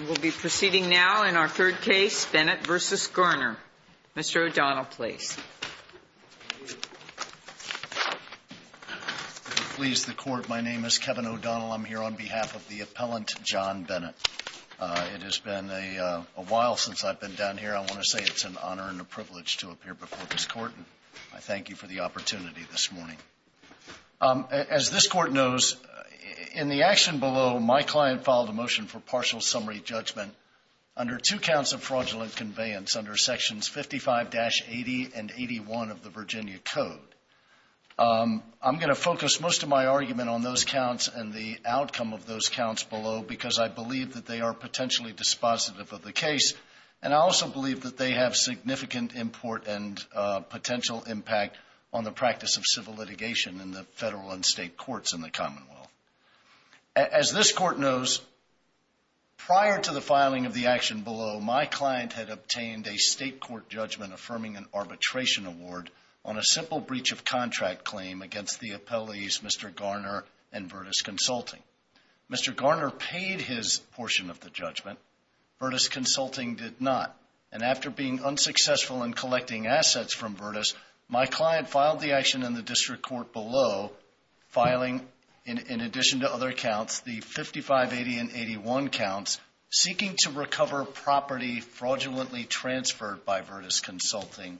We will be proceeding now in our third case, Bennett v. Garner. Mr. O'Donnell, please. If it pleases the Court, my name is Kevin O'Donnell. I'm here on behalf of the appellant, John Bennett. It has been a while since I've been down here. I want to say it's an honor and a privilege to appear before this Court. I thank you for the opportunity this morning. As this Court knows, in the action below, my client filed a motion for partial summary judgment under two counts of fraudulent conveyance under Sections 55-80 and 81 of the Virginia Code. I'm going to focus most of my argument on those counts and the outcome of those counts below because I believe that they are potentially dispositive of the case, and I also believe that they have significant import and potential impact on the practice of civil litigation in the federal and state courts in the Commonwealth. As this Court knows, prior to the filing of the action below, my client had obtained a state court judgment affirming an arbitration award on a simple breach of contract claim against the appellees, Mr. Garner and Vertus Consulting. Mr. Garner paid his portion of the judgment. Vertus Consulting did not. And after being unsuccessful in collecting assets from Vertus, my client filed the action in the district court below, filing, in addition to other counts, the 55-80 and 81 counts, seeking to recover property fraudulently transferred by Vertus Consulting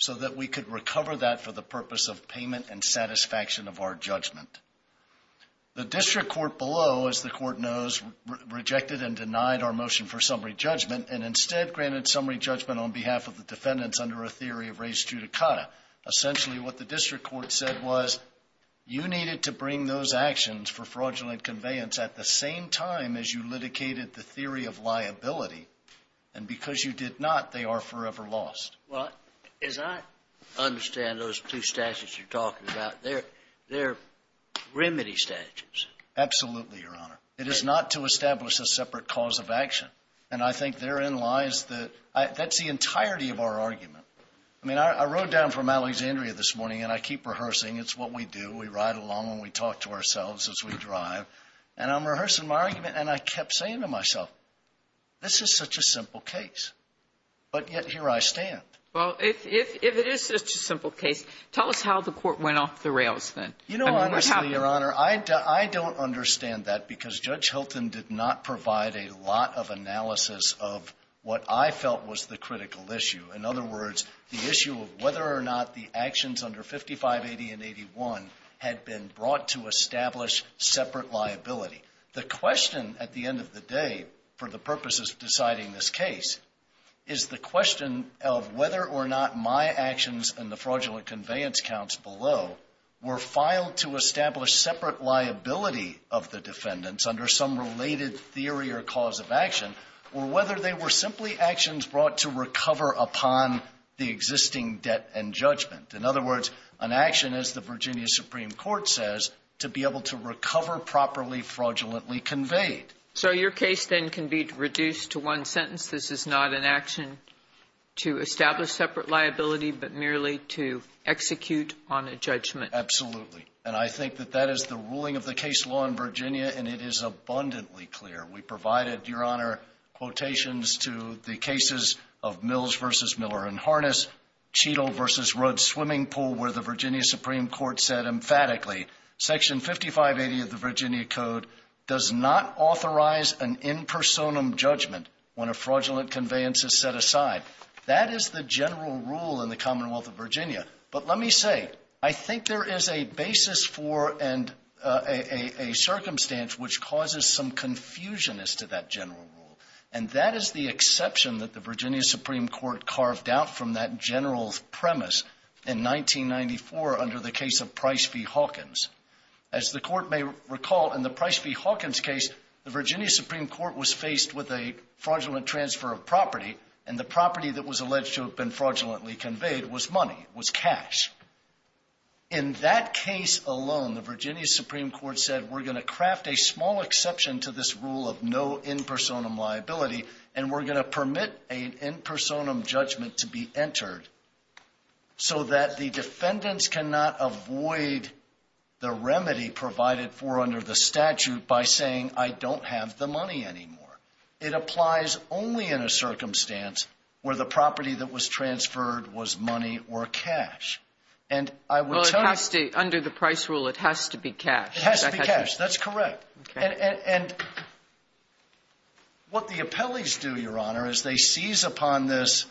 so that we could recover that for the purpose of payment and satisfaction of our judgment. The district court below, as the Court knows, rejected and denied our motion for summary judgment and instead granted summary judgment on behalf of the defendants under a theory of res judicata. Essentially, what the district court said was you needed to bring those actions for fraudulent conveyance at the same time as you litigated the theory of liability, and because you did not, they are forever lost. Well, as I understand those two statutes you're talking about, they're remedy statutes. Absolutely, Your Honor. It is not to establish a separate cause of action. And I think therein lies the — that's the entirety of our argument. I mean, I rode down from Alexandria this morning, and I keep rehearsing. It's what we do. We ride along and we talk to ourselves as we drive. And I'm rehearsing my argument, and I kept saying to myself, this is such a simple case. But yet here I stand. Well, if it is such a simple case, tell us how the court went off the rails then. You know, honestly, Your Honor, I don't understand that because Judge Hilton did not provide a lot of analysis of what I felt was the critical issue. In other words, the issue of whether or not the actions under 5580 and 81 had been brought to establish separate liability. The question at the end of the day for the purposes of deciding this case is the question of whether or not my actions and the fraudulent conveyance counts below were filed to establish separate liability of the defendants under some related theory or cause of action, or whether they were simply actions brought to recover upon the existing debt and judgment. In other words, an action, as the Virginia Supreme Court says, to be able to recover or properly fraudulently conveyed. So your case then can be reduced to one sentence. This is not an action to establish separate liability, but merely to execute on a judgment. Absolutely. And I think that that is the ruling of the case law in Virginia, and it is abundantly clear. We provided, Your Honor, quotations to the cases of Mills v. Miller and Harness, Cheadle v. Rudd's swimming pool, where the Virginia Supreme Court said emphatically, Section 5580 of the Virginia Code does not authorize an impersonum judgment when a fraudulent conveyance is set aside. That is the general rule in the Commonwealth of Virginia. But let me say, I think there is a basis for and a circumstance which causes some confusion as to that general rule. And that is the exception that the Virginia Supreme Court carved out from that general in 1994 under the case of Price v. Hawkins. As the Court may recall, in the Price v. Hawkins case, the Virginia Supreme Court was faced with a fraudulent transfer of property, and the property that was alleged to have been fraudulently conveyed was money, was cash. In that case alone, the Virginia Supreme Court said, we're going to craft a small exception to this rule of no impersonum liability, and we're going to permit an impersonation so that the defendants cannot avoid the remedy provided for under the statute by saying, I don't have the money anymore. It applies only in a circumstance where the property that was transferred was money or cash. And I would tell you — Well, under the Price rule, it has to be cash. It has to be cash. That's correct. Okay. And what the appellees do, Your Honor, is they seize upon this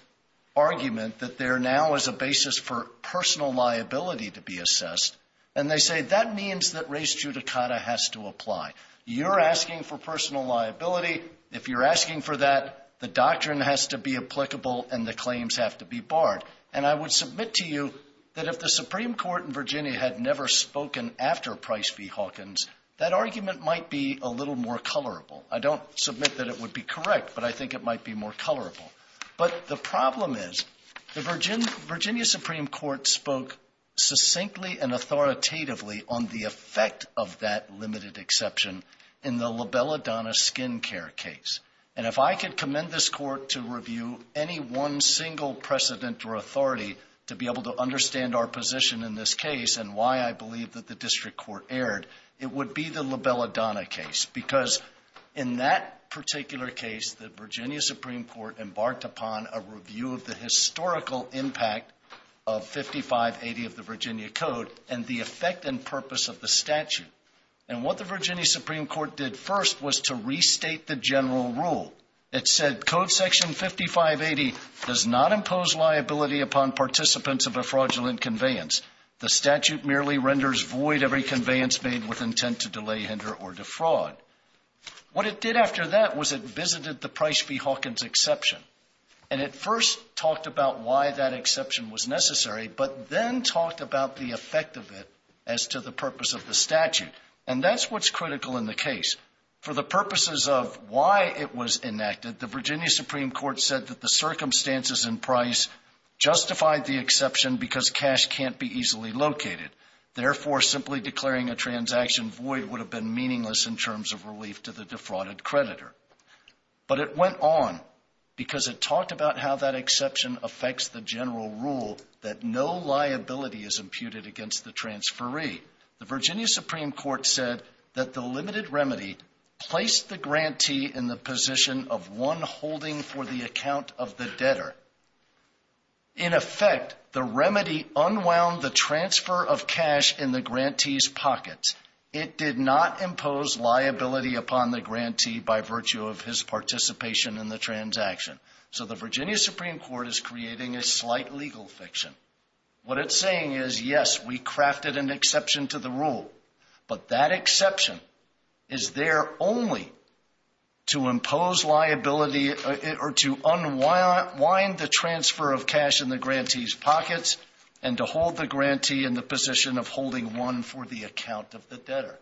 argument that there now is a basis for personal liability to be assessed, and they say, that means that res judicata has to apply. You're asking for personal liability. If you're asking for that, the doctrine has to be applicable and the claims have to be barred. And I would submit to you that if the Supreme Court in Virginia had never spoken after Price v. Hawkins, that argument might be a little more colorable. I don't submit that it would be correct, but I think it might be more colorable. But the problem is, the Virginia Supreme Court spoke succinctly and authoritatively on the effect of that limited exception in the LaBelladonna skin care case. And if I could commend this Court to review any one single precedent or authority to be able to understand our position in this case and why I believe that the district court erred, it would be the LaBelladonna case. Because in that particular case, the Virginia Supreme Court embarked upon a review of the historical impact of 5580 of the Virginia Code and the effect and purpose of the statute. And what the Virginia Supreme Court did first was to restate the general rule. It said, Code section 5580 does not impose liability upon participants of a fraudulent conveyance. The statute merely renders void every conveyance made with intent to delay, hinder, or defraud. What it did after that was it visited the Price v. Hawkins exception. And it first talked about why that exception was necessary, but then talked about the effect of it as to the purpose of the statute. And that's what's critical in the case. For the purposes of why it was enacted, the Virginia Supreme Court said that the Therefore, simply declaring a transaction void would have been meaningless in terms of relief to the defrauded creditor. But it went on because it talked about how that exception affects the general rule that no liability is imputed against the transferee. The Virginia Supreme Court said that the limited remedy placed the grantee in the position of one holding for the account of the debtor. In effect, the remedy unwound the transfer of cash in the grantee's pocket. It did not impose liability upon the grantee by virtue of his participation in the transaction. So the Virginia Supreme Court is creating a slight legal fiction. What it's saying is, yes, we crafted an exception to the rule, but that exception is there only to impose liability or to unwind the transfer of cash in the grantee's pockets and to hold the grantee in the position of holding one for the account of the debtor.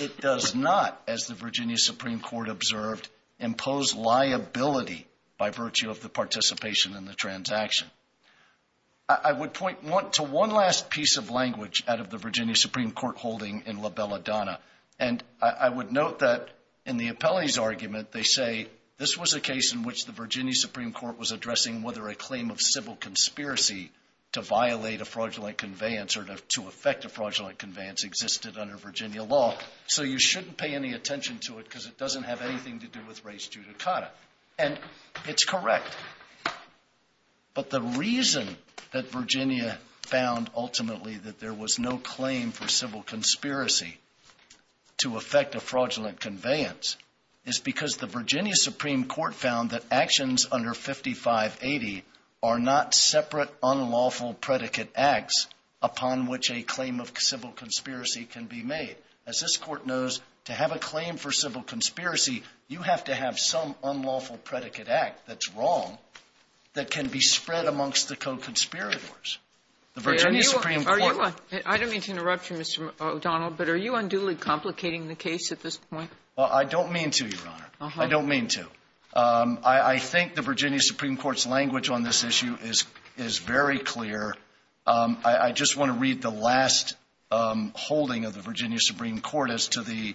It does not, as the Virginia Supreme Court observed, impose liability by virtue of the participation in the transaction. I would point to one last piece of language out of the Virginia Supreme Court holding in La Belladonna, and I would note that in the appellee's argument, they say this was a case in which the Virginia Supreme Court was addressing whether a claim of civil conspiracy to violate a fraudulent conveyance or to affect a fraudulent conveyance existed under Virginia law, so you shouldn't pay any attention to it because it doesn't have anything to do with race judicata. And it's correct. But the reason that Virginia found ultimately that there was no claim for civil conspiracy to affect a fraudulent conveyance is because the Virginia Supreme Court found that actions under 5580 are not separate unlawful predicate acts upon which a claim of civil conspiracy can be made. As this Court knows, to have a claim for civil conspiracy, you have to have some unlawful predicate act that's wrong that can be spread amongst the co-conspirators. The Virginia Supreme Court ---- Thank you, Mr. O'Donnell, but are you unduly complicating the case at this point? Well, I don't mean to, Your Honor. I don't mean to. I think the Virginia Supreme Court's language on this issue is very clear. I just want to read the last holding of the Virginia Supreme Court as to the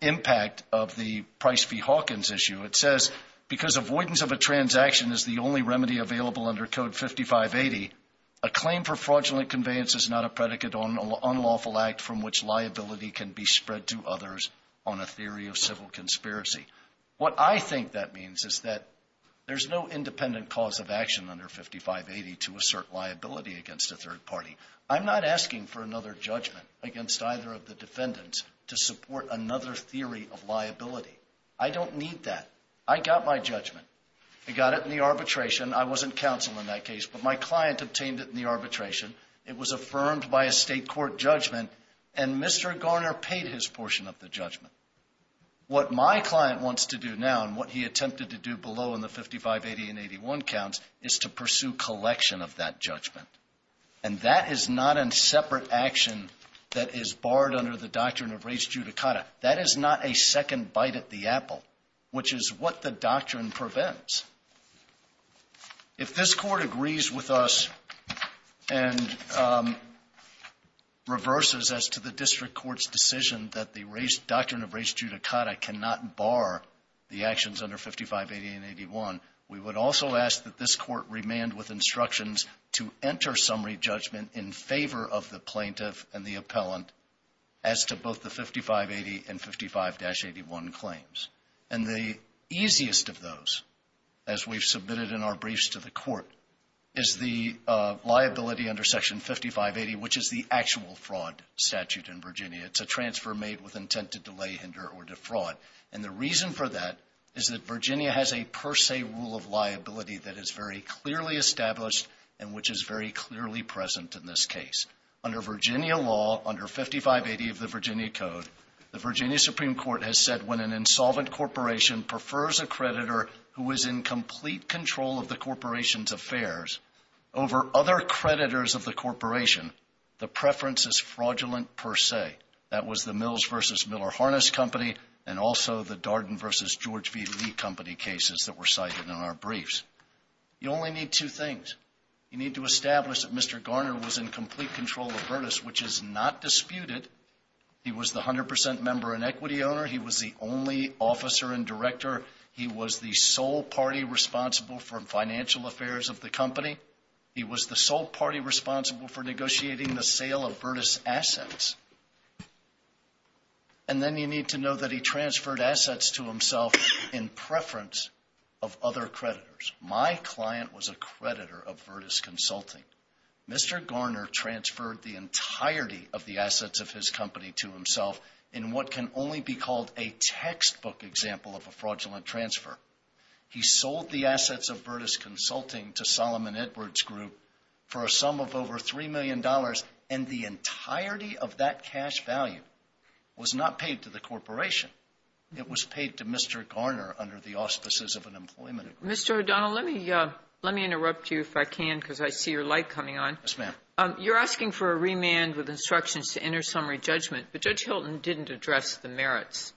impact of the Price v. Hawkins issue. It says, because avoidance of a transaction is the only remedy available under Code 5580, a claim for fraudulent conveyance is not a predicate unlawful act from which liability can be spread to others on a theory of civil conspiracy. What I think that means is that there's no independent cause of action under 5580 to assert liability against a third party. I'm not asking for another judgment against either of the defendants to support another theory of liability. I don't need that. I got my judgment. I got it in the arbitration. I wasn't counsel in that case, but my client obtained it in the arbitration. It was affirmed by a state court judgment, and Mr. Garner paid his portion of the judgment. What my client wants to do now, and what he attempted to do below in the 5580 and 81 counts, is to pursue collection of that judgment. And that is not a separate action that is barred under the doctrine of res judicata. That is not a second bite at the apple, which is what the doctrine prevents. If this Court agrees with us and reverses as to the district court's decision that the doctrine of res judicata cannot bar the actions under 5580 and 81, we would also ask that this Court remand with instructions to enter summary judgment in favor of the plaintiff and the appellant as to both the 5580 and 55-81 claims. And the easiest of those, as we've submitted in our briefs to the Court, is the liability under Section 5580, which is the actual fraud statute in Virginia. It's a transfer made with intent to delay, hinder, or defraud. And the reason for that is that Virginia has a per se rule of liability that is very clearly established and which is very clearly present in this case. Under Virginia law, under 5580 of the Virginia Code, the Virginia Supreme Court has said when an insolvent corporation prefers a creditor who is in complete control of the corporation's affairs over other creditors of the corporation, the preference is fraudulent per se. That was the Mills v. Miller Harness Company and also the Darden v. George V. Lee Company cases that were cited in our briefs. You only need two things. You need to establish that Mr. Garner was in complete control of Virtus, which is not disputed. He was the 100% member and equity owner. He was the only officer and director. He was the sole party responsible for financial affairs of the company. He was the sole party responsible for negotiating the sale of Virtus assets. And then you need to know that he preferred other creditors. My client was a creditor of Virtus Consulting. Mr. Garner transferred the entirety of the assets of his company to himself in what can only be called a textbook example of a fraudulent transfer. He sold the assets of Virtus Consulting to Solomon Edwards Group for a sum of over $3 million and the entirety of that cash value was not paid to the corporation. It was paid to Mr. Garner under the auspices of an employment agreement. Kagan. Mr. O'Donnell, let me interrupt you if I can because I see your light coming on. O'Donnell. Yes, ma'am. Kagan. You're asking for a remand with instructions to enter summary judgment, but Judge Hilton didn't address the merits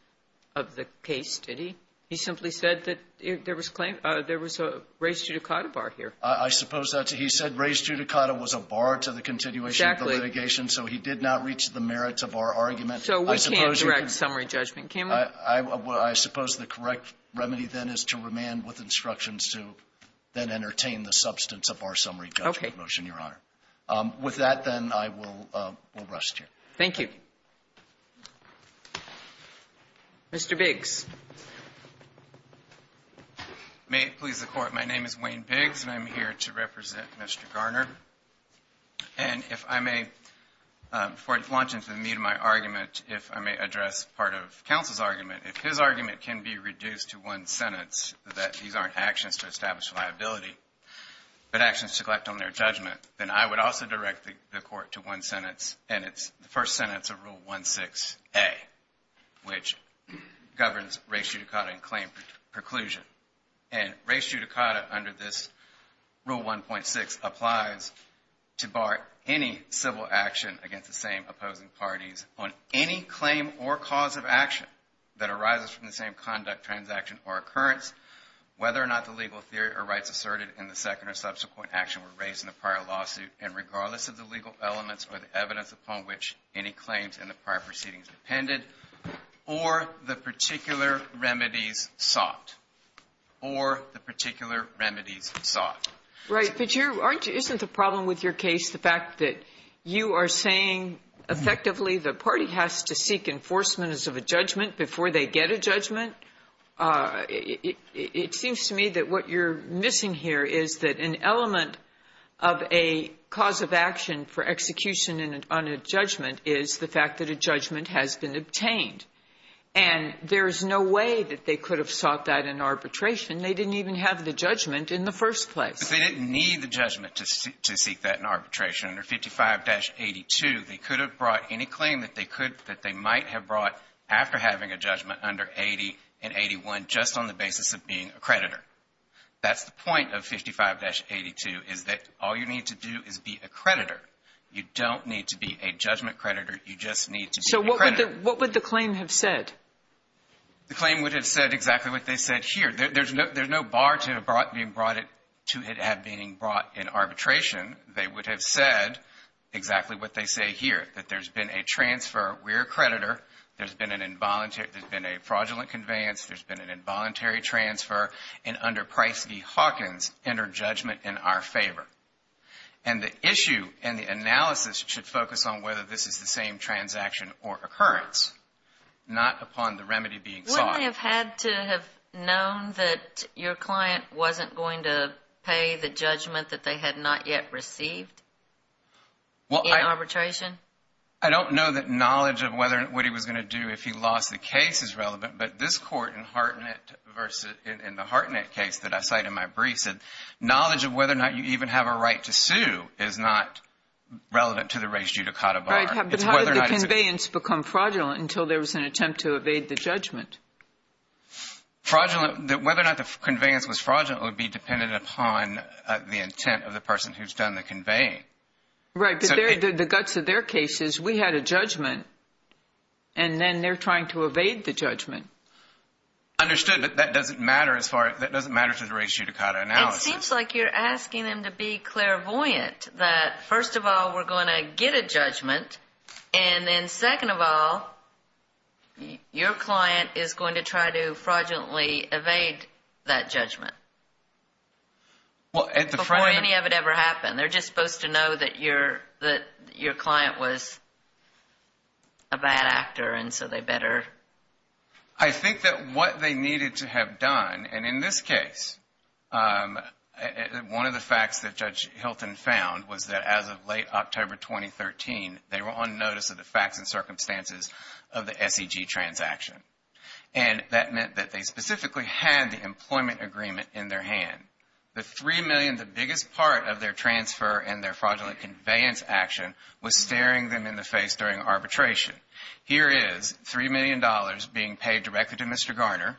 of the case, did he? He simply said that there was a raised judicata bar here. O'Donnell. I suppose that's it. He said raised judicata was a bar to the continuation of the litigation. Kagan. Exactly. O'Donnell. So he did not reach the merits of our argument. Kagan. So we can't direct summary judgment, can we? O'Donnell. I suppose the correct remedy then is to remand with instructions to then entertain the substance of our summary judgment motion, Your Honor. Kagan. Okay. O'Donnell. With that, then, I will rest here. Kagan. Thank you. Mr. Biggs. Wayne Biggs. May it please the Court, my name is Wayne Biggs and I'm here to represent Mr. Garner. And if I may, before I launch into the meat of my argument, if I may address part of counsel's argument, if his argument can be reduced to one sentence that these aren't actions to establish liability, but actions to collect on their judgment, then I would also direct the Court to one sentence, and it's the first sentence of Rule 16A, which governs raised judicata and claim preclusion. And raised judicata under this Rule 1.6 applies to bar any civil action against the same opposing parties on any claim or cause of action that arises from the same conduct, transaction, or occurrence, whether or not the legal theory or rights asserted in the second or subsequent action were raised in the prior lawsuit, and regardless of the legal elements or the evidence upon which any claims in the prior case proceedings depended, or the particular remedies sought. Or the particular remedies sought. Right. But isn't the problem with your case the fact that you are saying effectively the party has to seek enforcement as of a judgment before they get a judgment? It seems to me that what you're missing here is that an element of a cause of action for execution on a judgment is the fact that a judgment has been obtained. And there is no way that they could have sought that in arbitration. They didn't even have the judgment in the first place. They didn't need the judgment to seek that in arbitration. Under 55-82, they could have brought any claim that they could, that they might have brought after having a judgment under 80 and 81 just on the basis of being a creditor. That's the point of 55-82, is that all you need to do is be a creditor. You don't need to be a judgment creditor. You just need to be a creditor. So what would the claim have said? The claim would have said exactly what they said here. There's no bar to it being brought in arbitration. They would have said exactly what they say here, that there's been a transfer. We're a creditor. There's been an involuntary transfer. And under Price v. Hawkins, enter judgment in our favor. And the issue and the analysis should focus on whether this is the same transaction or occurrence, not upon the remedy being sought. Wouldn't they have had to have known that your client wasn't going to pay the judgment that they had not yet received in arbitration? I don't know that knowledge of what he was going to do if he lost the case is relevant, but this court in the Hartnett case that I cite in my brief said knowledge of whether or not you even have a right to sue is not relevant to the raised judicata bar. But how did the conveyance become fraudulent until there was an attempt to evade the judgment? Whether or not the conveyance was fraudulent would be dependent upon the intent of the person who's done the conveying. Right, but the guts of their case is we had a judgment, and then they're trying to evade the judgment. Understood, but that doesn't matter as far as, that doesn't matter to the raised judicata analysis. It seems like you're asking them to be clairvoyant that first of all, we're going to get a judgment, and then second of all, your client is going to try to fraudulently evade that judgment before any of it ever happened. They're just supposed to know that your client was a bad actor, and so they better. I think that what they needed to have done, and in this case, one of the facts that Judge Hilton found was that as of late October 2013, they were on notice of the facts and circumstances of the SEG transaction. And that meant that they specifically had the employment agreement in their hand. The $3 million, the biggest part of their transfer and their fraudulent conveyance action was staring them in the face during arbitration. Here is $3 million being paid directly to Mr. Garner,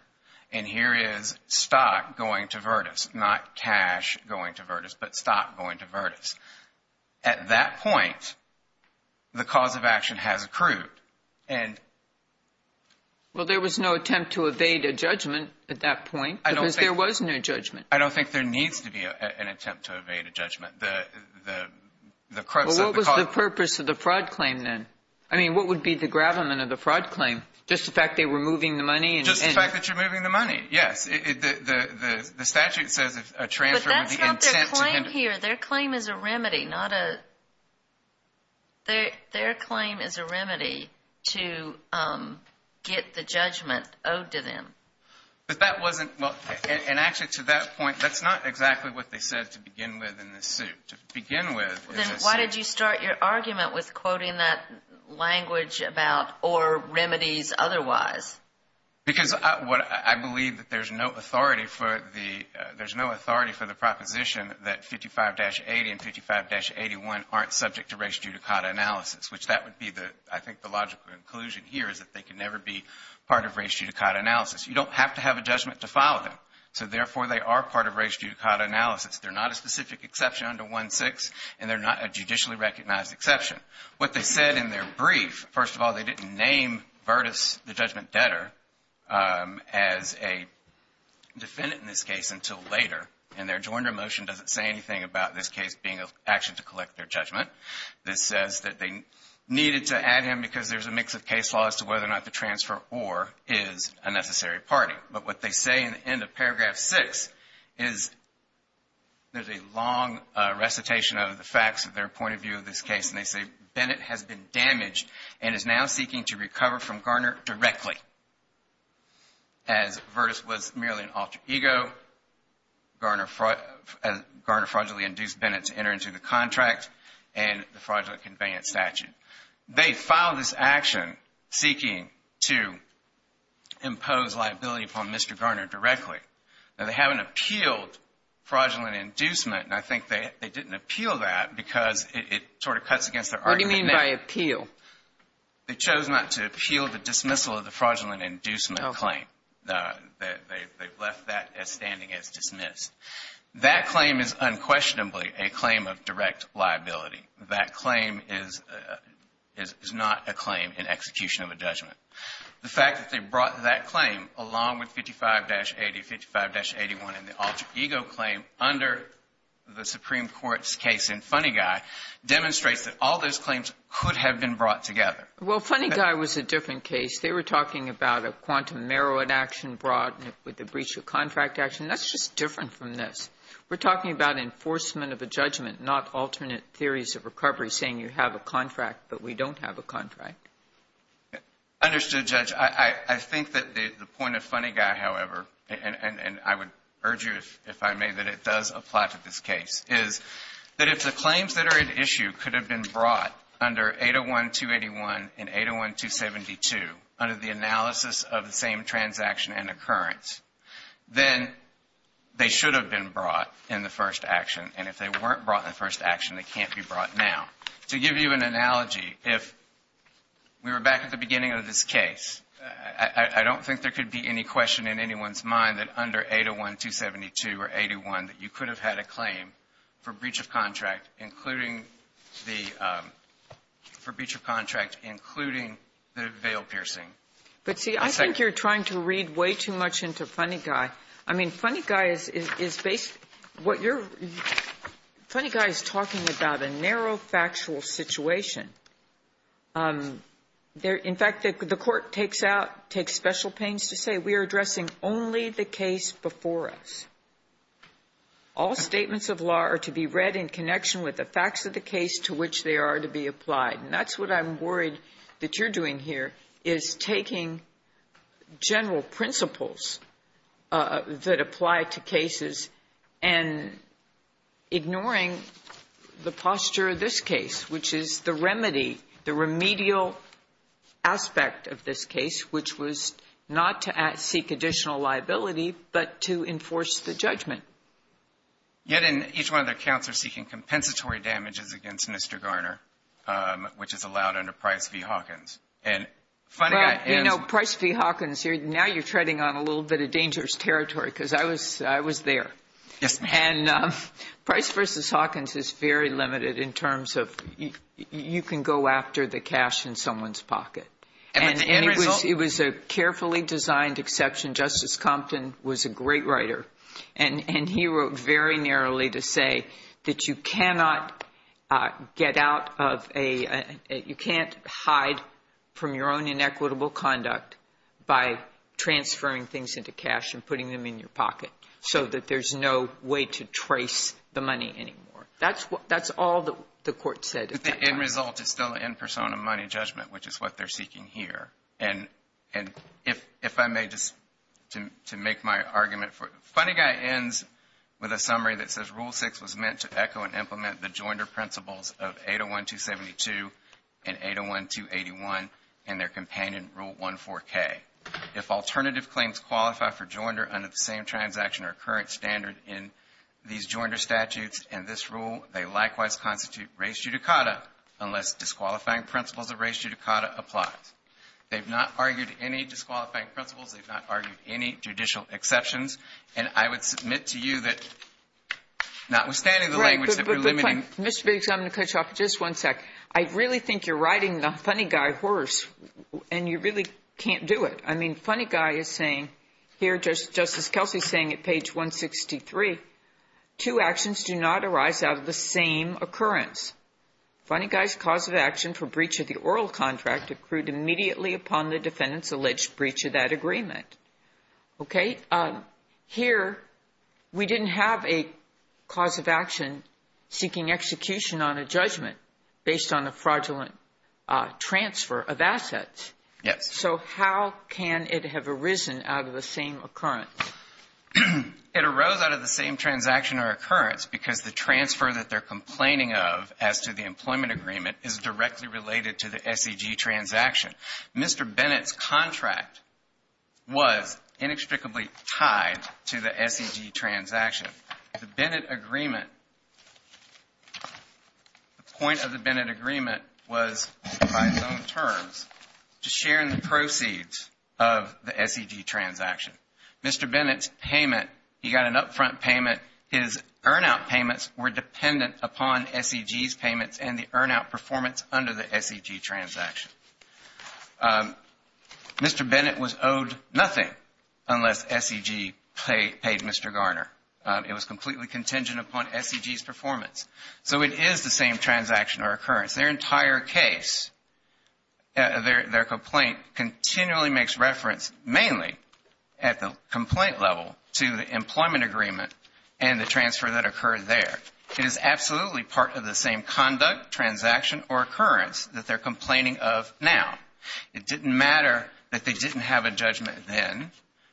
and here is stock going to Virtus, not cash going to Virtus, but stock going to Virtus. At that point, the cause of action has accrued. Well, there was no attempt to evade a judgment at that point because there was no judgment. I don't think there needs to be an attempt to evade a judgment. Well, what was the purpose of the fraud claim then? I mean, what would be the gravamen of the fraud claim? Just the fact they were moving the money? Just the fact that you're moving the money, yes. The statute says a transfer with the intent to him. But that's not their claim here. Their claim is a remedy, not a... Their claim is a remedy to get the judgment owed to them. But that wasn't... And actually, to that point, that's not exactly what they said to begin with in this suit. To begin with... Then why did you start your argument with quoting that language about or remedies otherwise? Because I believe that there's no authority for the proposition that 55-80 and 55-81 aren't subject to race judicata analysis, which that would be the, I think, the logical conclusion here is that they can never be part of race judicata analysis. You don't have to have a judgment to file them. So therefore, they are part of race judicata analysis. They're not a specific exception under 1-6, and they're not a judicially recognized exception. What they said in their brief, first of all, they didn't name Virtus, the judgment debtor, as a defendant in this case until later. And their adjourner motion doesn't say anything about this case being an action to collect their judgment. This says that they needed to add him because there's a mix of case laws as to whether or not the transferor is a necessary party. But what they say in the end of paragraph 6 is there's a long recitation of the facts of their point of view of this case, and they say, Bennett has been damaged and is now seeking to recover from Garner directly. As Virtus was merely an alter ego, Garner fraudulently induced Bennett to enter into the contract and the fraudulent conveyance statute. They filed this action seeking to impose liability upon Mr. Garner directly. Now, they haven't appealed fraudulent inducement, and I think they didn't appeal that because it sort of cuts against their argument. What do you mean by appeal? They chose not to appeal the dismissal of the fraudulent inducement claim. They've left that as standing as dismissed. That claim is unquestionably a claim of direct liability. That claim is not a claim in execution of a judgment. The fact that they brought that claim along with 55-80, 55-81 and the alter ego claim under the Supreme Court's case in Funny Guy demonstrates that all those claims could have been brought together. Well, Funny Guy was a different case. They were talking about a quantum merit action brought with the breach of contract That's just different from this. We're talking about enforcement of a judgment, not alternate theories of recovery saying you have a contract but we don't have a contract. Understood, Judge. I think that the point of Funny Guy, however, and I would urge you, if I may, that it does apply to this case, is that if the claims that are at issue could have been brought under 801-281 and 801-272 under the analysis of the same transaction and occurrence, then they should have been brought in the first action. And if they weren't brought in the first action, they can't be brought now. To give you an analogy, if we were back at the beginning of this case, I don't think there could be any question in anyone's mind that under 801-272 or 801 that you could have had a claim for breach of contract, including the veil piercing. But, see, I think you're trying to read way too much into Funny Guy. I mean, Funny Guy is basically what you're – Funny Guy is talking about a narrow factual situation. In fact, the court takes out, takes special pains to say we are addressing only the case before us. All statements of law are to be read in connection with the facts of the case to which they are to be applied. And that's what I'm worried that you're doing here, is taking general principles that apply to cases and ignoring the posture of this case, which is the remedy, the remedial aspect of this case, which was not to seek additional liability, but to enforce the judgment. Yet in each one of their counts, they're seeking compensatory damages against Mr. Garner, which is allowed under Price v. Hawkins. And Funny Guy – But, you know, Price v. Hawkins, now you're treading on a little bit of dangerous territory because I was there. Yes, ma'am. And Price v. Hawkins is very limited in terms of you can go after the cash in someone's pocket. And the end result – And he wrote very narrowly to say that you cannot get out of a – you can't hide from your own inequitable conduct by transferring things into cash and putting them in your pocket so that there's no way to trace the money anymore. That's all the court said at that time. But the end result is still the end persona money judgment, which is what they're seeking here. And if I may, just to make my argument for it, Funny Guy ends with a summary that says, Rule 6 was meant to echo and implement the joinder principles of 801-272 and 801-281 and their companion Rule 1-4K. If alternative claims qualify for joinder under the same transaction or current standard in these joinder statutes in this rule, they likewise constitute res judicata unless disqualifying principles of res judicata applies. They've not argued any disqualifying principles. They've not argued any judicial exceptions. And I would submit to you that notwithstanding the language that we're limiting – Mr. Biggs, I'm going to cut you off for just one second. I really think you're riding the Funny Guy horse, and you really can't do it. I mean, Funny Guy is saying here, just as Kelsey is saying at page 163, two actions do not arise out of the same occurrence. Funny Guy's cause of action for breach of the oral contract accrued immediately upon the defendant's alleged breach of that agreement. Okay? Here, we didn't have a cause of action seeking execution on a judgment based on a fraudulent transfer of assets. Yes. So how can it have arisen out of the same occurrence? It arose out of the same transaction or occurrence because the transfer that they're complaining of as to the employment agreement is directly related to the SED transaction. Mr. Bennett's contract was inextricably tied to the SED transaction. The Bennett agreement, the point of the Bennett agreement, was by its own terms to share in the proceeds of the SED transaction. Mr. Bennett's payment, he got an upfront payment. His earn out payments were dependent upon SED's payments and the earn out performance under the SED transaction. Mr. Bennett was owed nothing unless SED paid Mr. Garner. It was completely contingent upon SED's performance. So it is the same transaction or occurrence. Their entire case, their complaint continually makes reference mainly at the complaint level to the employment agreement and the transfer that occurred there. It is absolutely part of the same conduct, transaction, or occurrence that they're complaining of now. It didn't matter that they didn't have a judgment then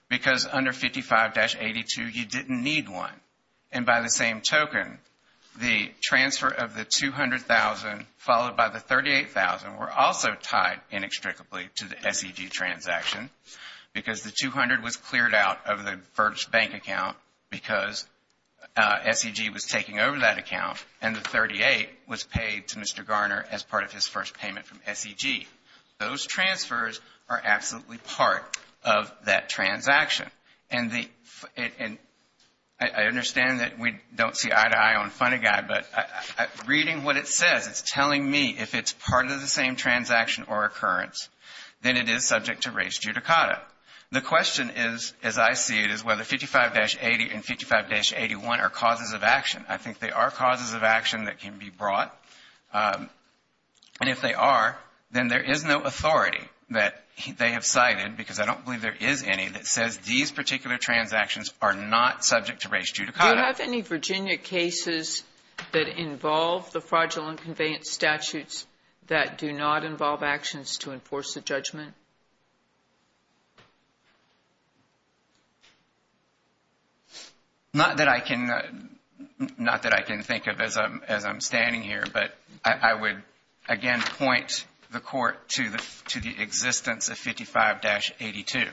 because under 55-82 you didn't need one. And by the same token, the transfer of the $200,000 followed by the $38,000 were also tied inextricably to the SED transaction because the $200,000 was cleared out of the first bank account because SED was taking over that account and the $38,000 was paid to Mr. Garner as part of his first payment from SED. Those transfers are absolutely part of that transaction. And I understand that we don't see eye-to-eye on Funny Guy, but reading what it says, it's telling me if it's part of the same transaction or occurrence, then it is subject to res judicata. The question is, as I see it, is whether 55-80 and 55-81 are causes of action. I think they are causes of action that can be brought. And if they are, then there is no authority that they have cited, because I don't believe there is any, that says these particular transactions are not subject to res judicata. Do you have any Virginia cases that involve the fraudulent conveyance statutes that do not involve actions to enforce the judgment? Not that I can think of as I'm standing here, but I would again point the Court to the existence of 55-82.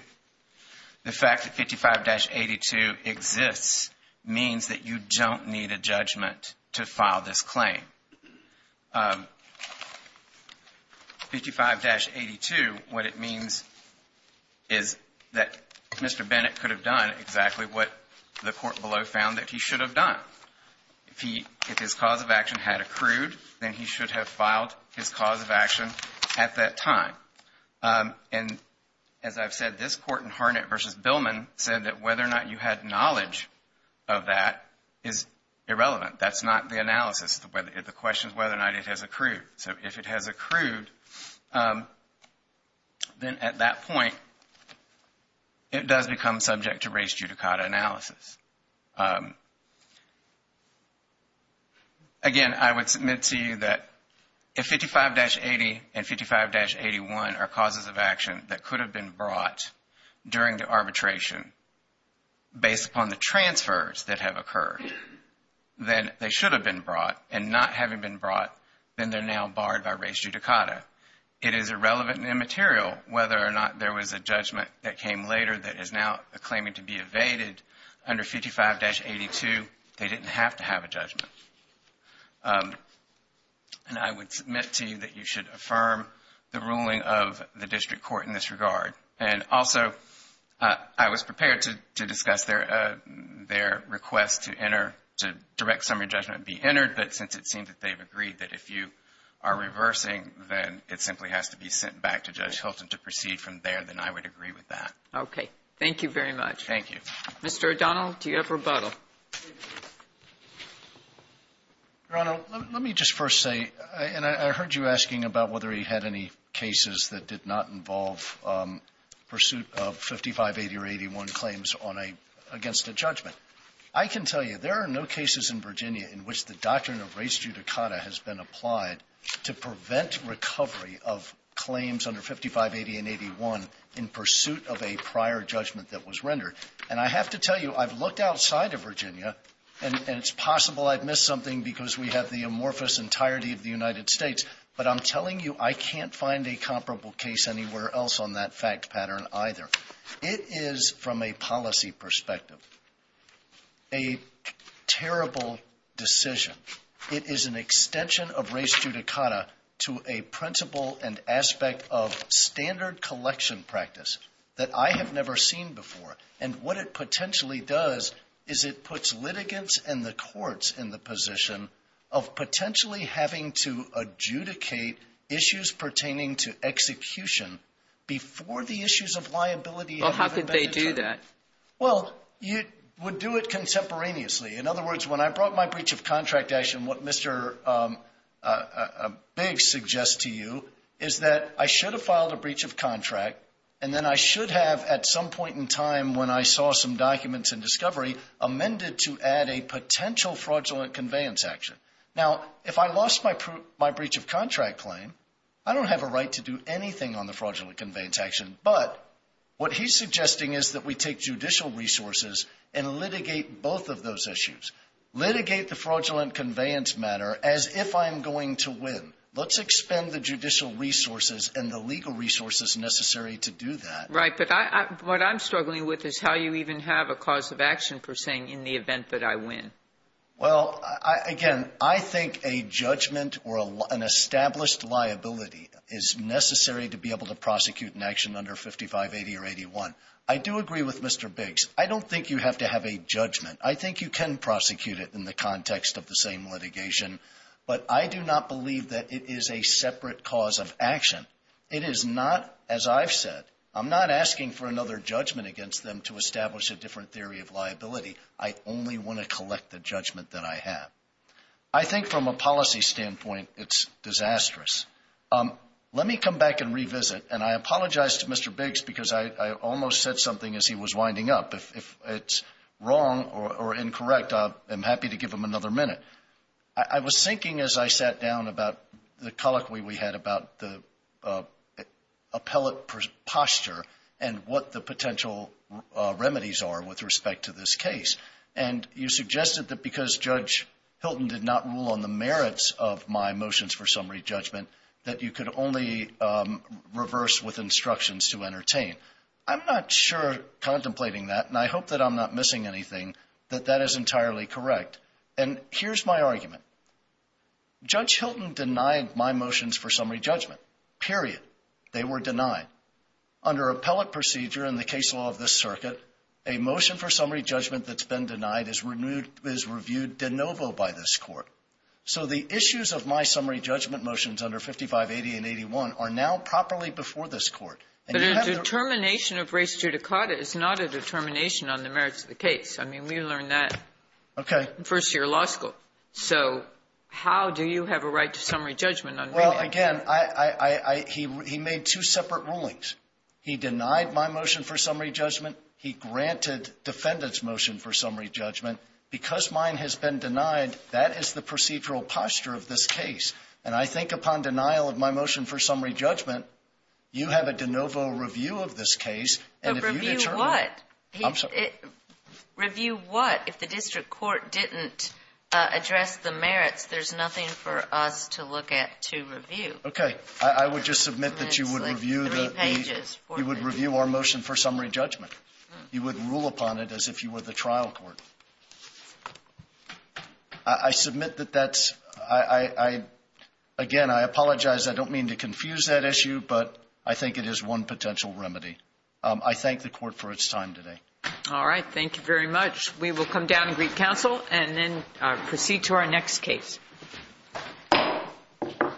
The fact that 55-82 exists means that you don't need a judgment to file this claim. 55-82, what it means is that Mr. Bennett could have done exactly what the Court below found that he should have done. If his cause of action had accrued, then he should have filed his cause of action at that time. And as I've said, this Court in Harnett v. Billman said that whether or not you had knowledge of that is irrelevant. That's not the analysis. The question is whether or not it has accrued. So if it has accrued, then at that point, it does become subject to res judicata analysis. Again, I would submit to you that if 55-80 and 55-81 are causes of action that could have been brought during the arbitration based upon the transfers that have occurred, then they should have been brought. And not having been brought, then they're now barred by res judicata. It is irrelevant and immaterial whether or not there was a judgment that came later that is now claiming to be evaded under 55-82. They didn't have to have a judgment. And I would submit to you that you should affirm the ruling of the District Court in this regard. And also, I was prepared to discuss their request to enter, to direct summary judgment be entered, but since it seems that they've agreed that if you are reversing, then it simply has to be sent back to Judge Hilton to proceed from there, then I would agree with that. Okay. Thank you very much. Thank you. Mr. O'Donnell, do you have rebuttal? Your Honor, let me just first say, and I heard you asking about whether he had any cases that did not involve pursuit of 55-80 or 81 claims on a --" against a judgment. I can tell you there are no cases in Virginia in which the doctrine of res judicata has been applied to prevent recovery of claims under 55-80 and 81 in pursuit of a prior judgment that was rendered. And I have to tell you, I've looked outside of Virginia, and it's possible I've missed something because we have the amorphous entirety of the United States, but I'm telling you I can't find a comparable case anywhere else on that fact pattern either. It is, from a policy perspective, a terrible decision. It is an extension of res judicata to a principle and aspect of standard collection practice that I have never seen before. And what it potentially does is it puts litigants and the courts in the position of potentially having to adjudicate issues pertaining to execution before the issues of liability have been determined. Well, how could they do that? Well, you would do it contemporaneously. In other words, when I brought my breach of contract action, what Mr. Biggs suggests to you is that I should have filed a breach of contract, and then I should have at some point in time when I saw some fraudulent conveyance action. Now, if I lost my breach of contract claim, I don't have a right to do anything on the fraudulent conveyance action, but what he's suggesting is that we take judicial resources and litigate both of those issues, litigate the fraudulent conveyance matter as if I'm going to win. Let's expend the judicial resources and the legal resources necessary to do that. Right. But what I'm struggling with is how you even have a cause of action for saying in the event that I win. Well, again, I think a judgment or an established liability is necessary to be able to prosecute an action under 5580 or 81. I do agree with Mr. Biggs. I don't think you have to have a judgment. I think you can prosecute it in the context of the same litigation, but I do not believe that it is a separate cause of action. It is not, as I've said, I'm not asking for another judgment against them to collect the judgment that I have. I think from a policy standpoint, it's disastrous. Let me come back and revisit, and I apologize to Mr. Biggs because I almost said something as he was winding up. If it's wrong or incorrect, I'm happy to give him another minute. I was thinking as I sat down about the colloquy we had about the appellate posture and what the potential remedies are with respect to this case, and you suggested that because Judge Hilton did not rule on the merits of my motions for summary judgment, that you could only reverse with instructions to entertain. I'm not sure contemplating that, and I hope that I'm not missing anything, that that is entirely correct. And here's my argument. Judge Hilton denied my motions for summary judgment, period. They were denied. Under appellate procedure and the case law of this circuit, a motion for summary judgment that's been denied is reviewed de novo by this Court. So the issues of my summary judgment motions under 5580 and 81 are now properly before this Court. And you have the ---- But a determination of res judicata is not a determination on the merits of the case. I mean, we learned that ---- Okay. ---- in first-year law school. So how do you have a right to summary judgment on remand? Well, again, I, I, I, he, he made two separate rulings. He denied my motion for summary judgment. He granted defendant's motion for summary judgment. Because mine has been denied, that is the procedural posture of this case. And I think upon denial of my motion for summary judgment, you have a de novo review of this case, and if you determine ---- But review what? I'm sorry. Review what? If the district court didn't address the merits, there's nothing for us to look at to review. Okay. I, I would just submit that you would review the, the, you would review our motion for summary judgment. You would rule upon it as if you were the trial court. I, I submit that that's, I, I, I, again, I apologize. I don't mean to confuse that issue, but I think it is one potential remedy. I thank the Court for its time today. All right. Thank you very much. We will come down and greet counsel and then proceed to our next case. Thank you. Thank you.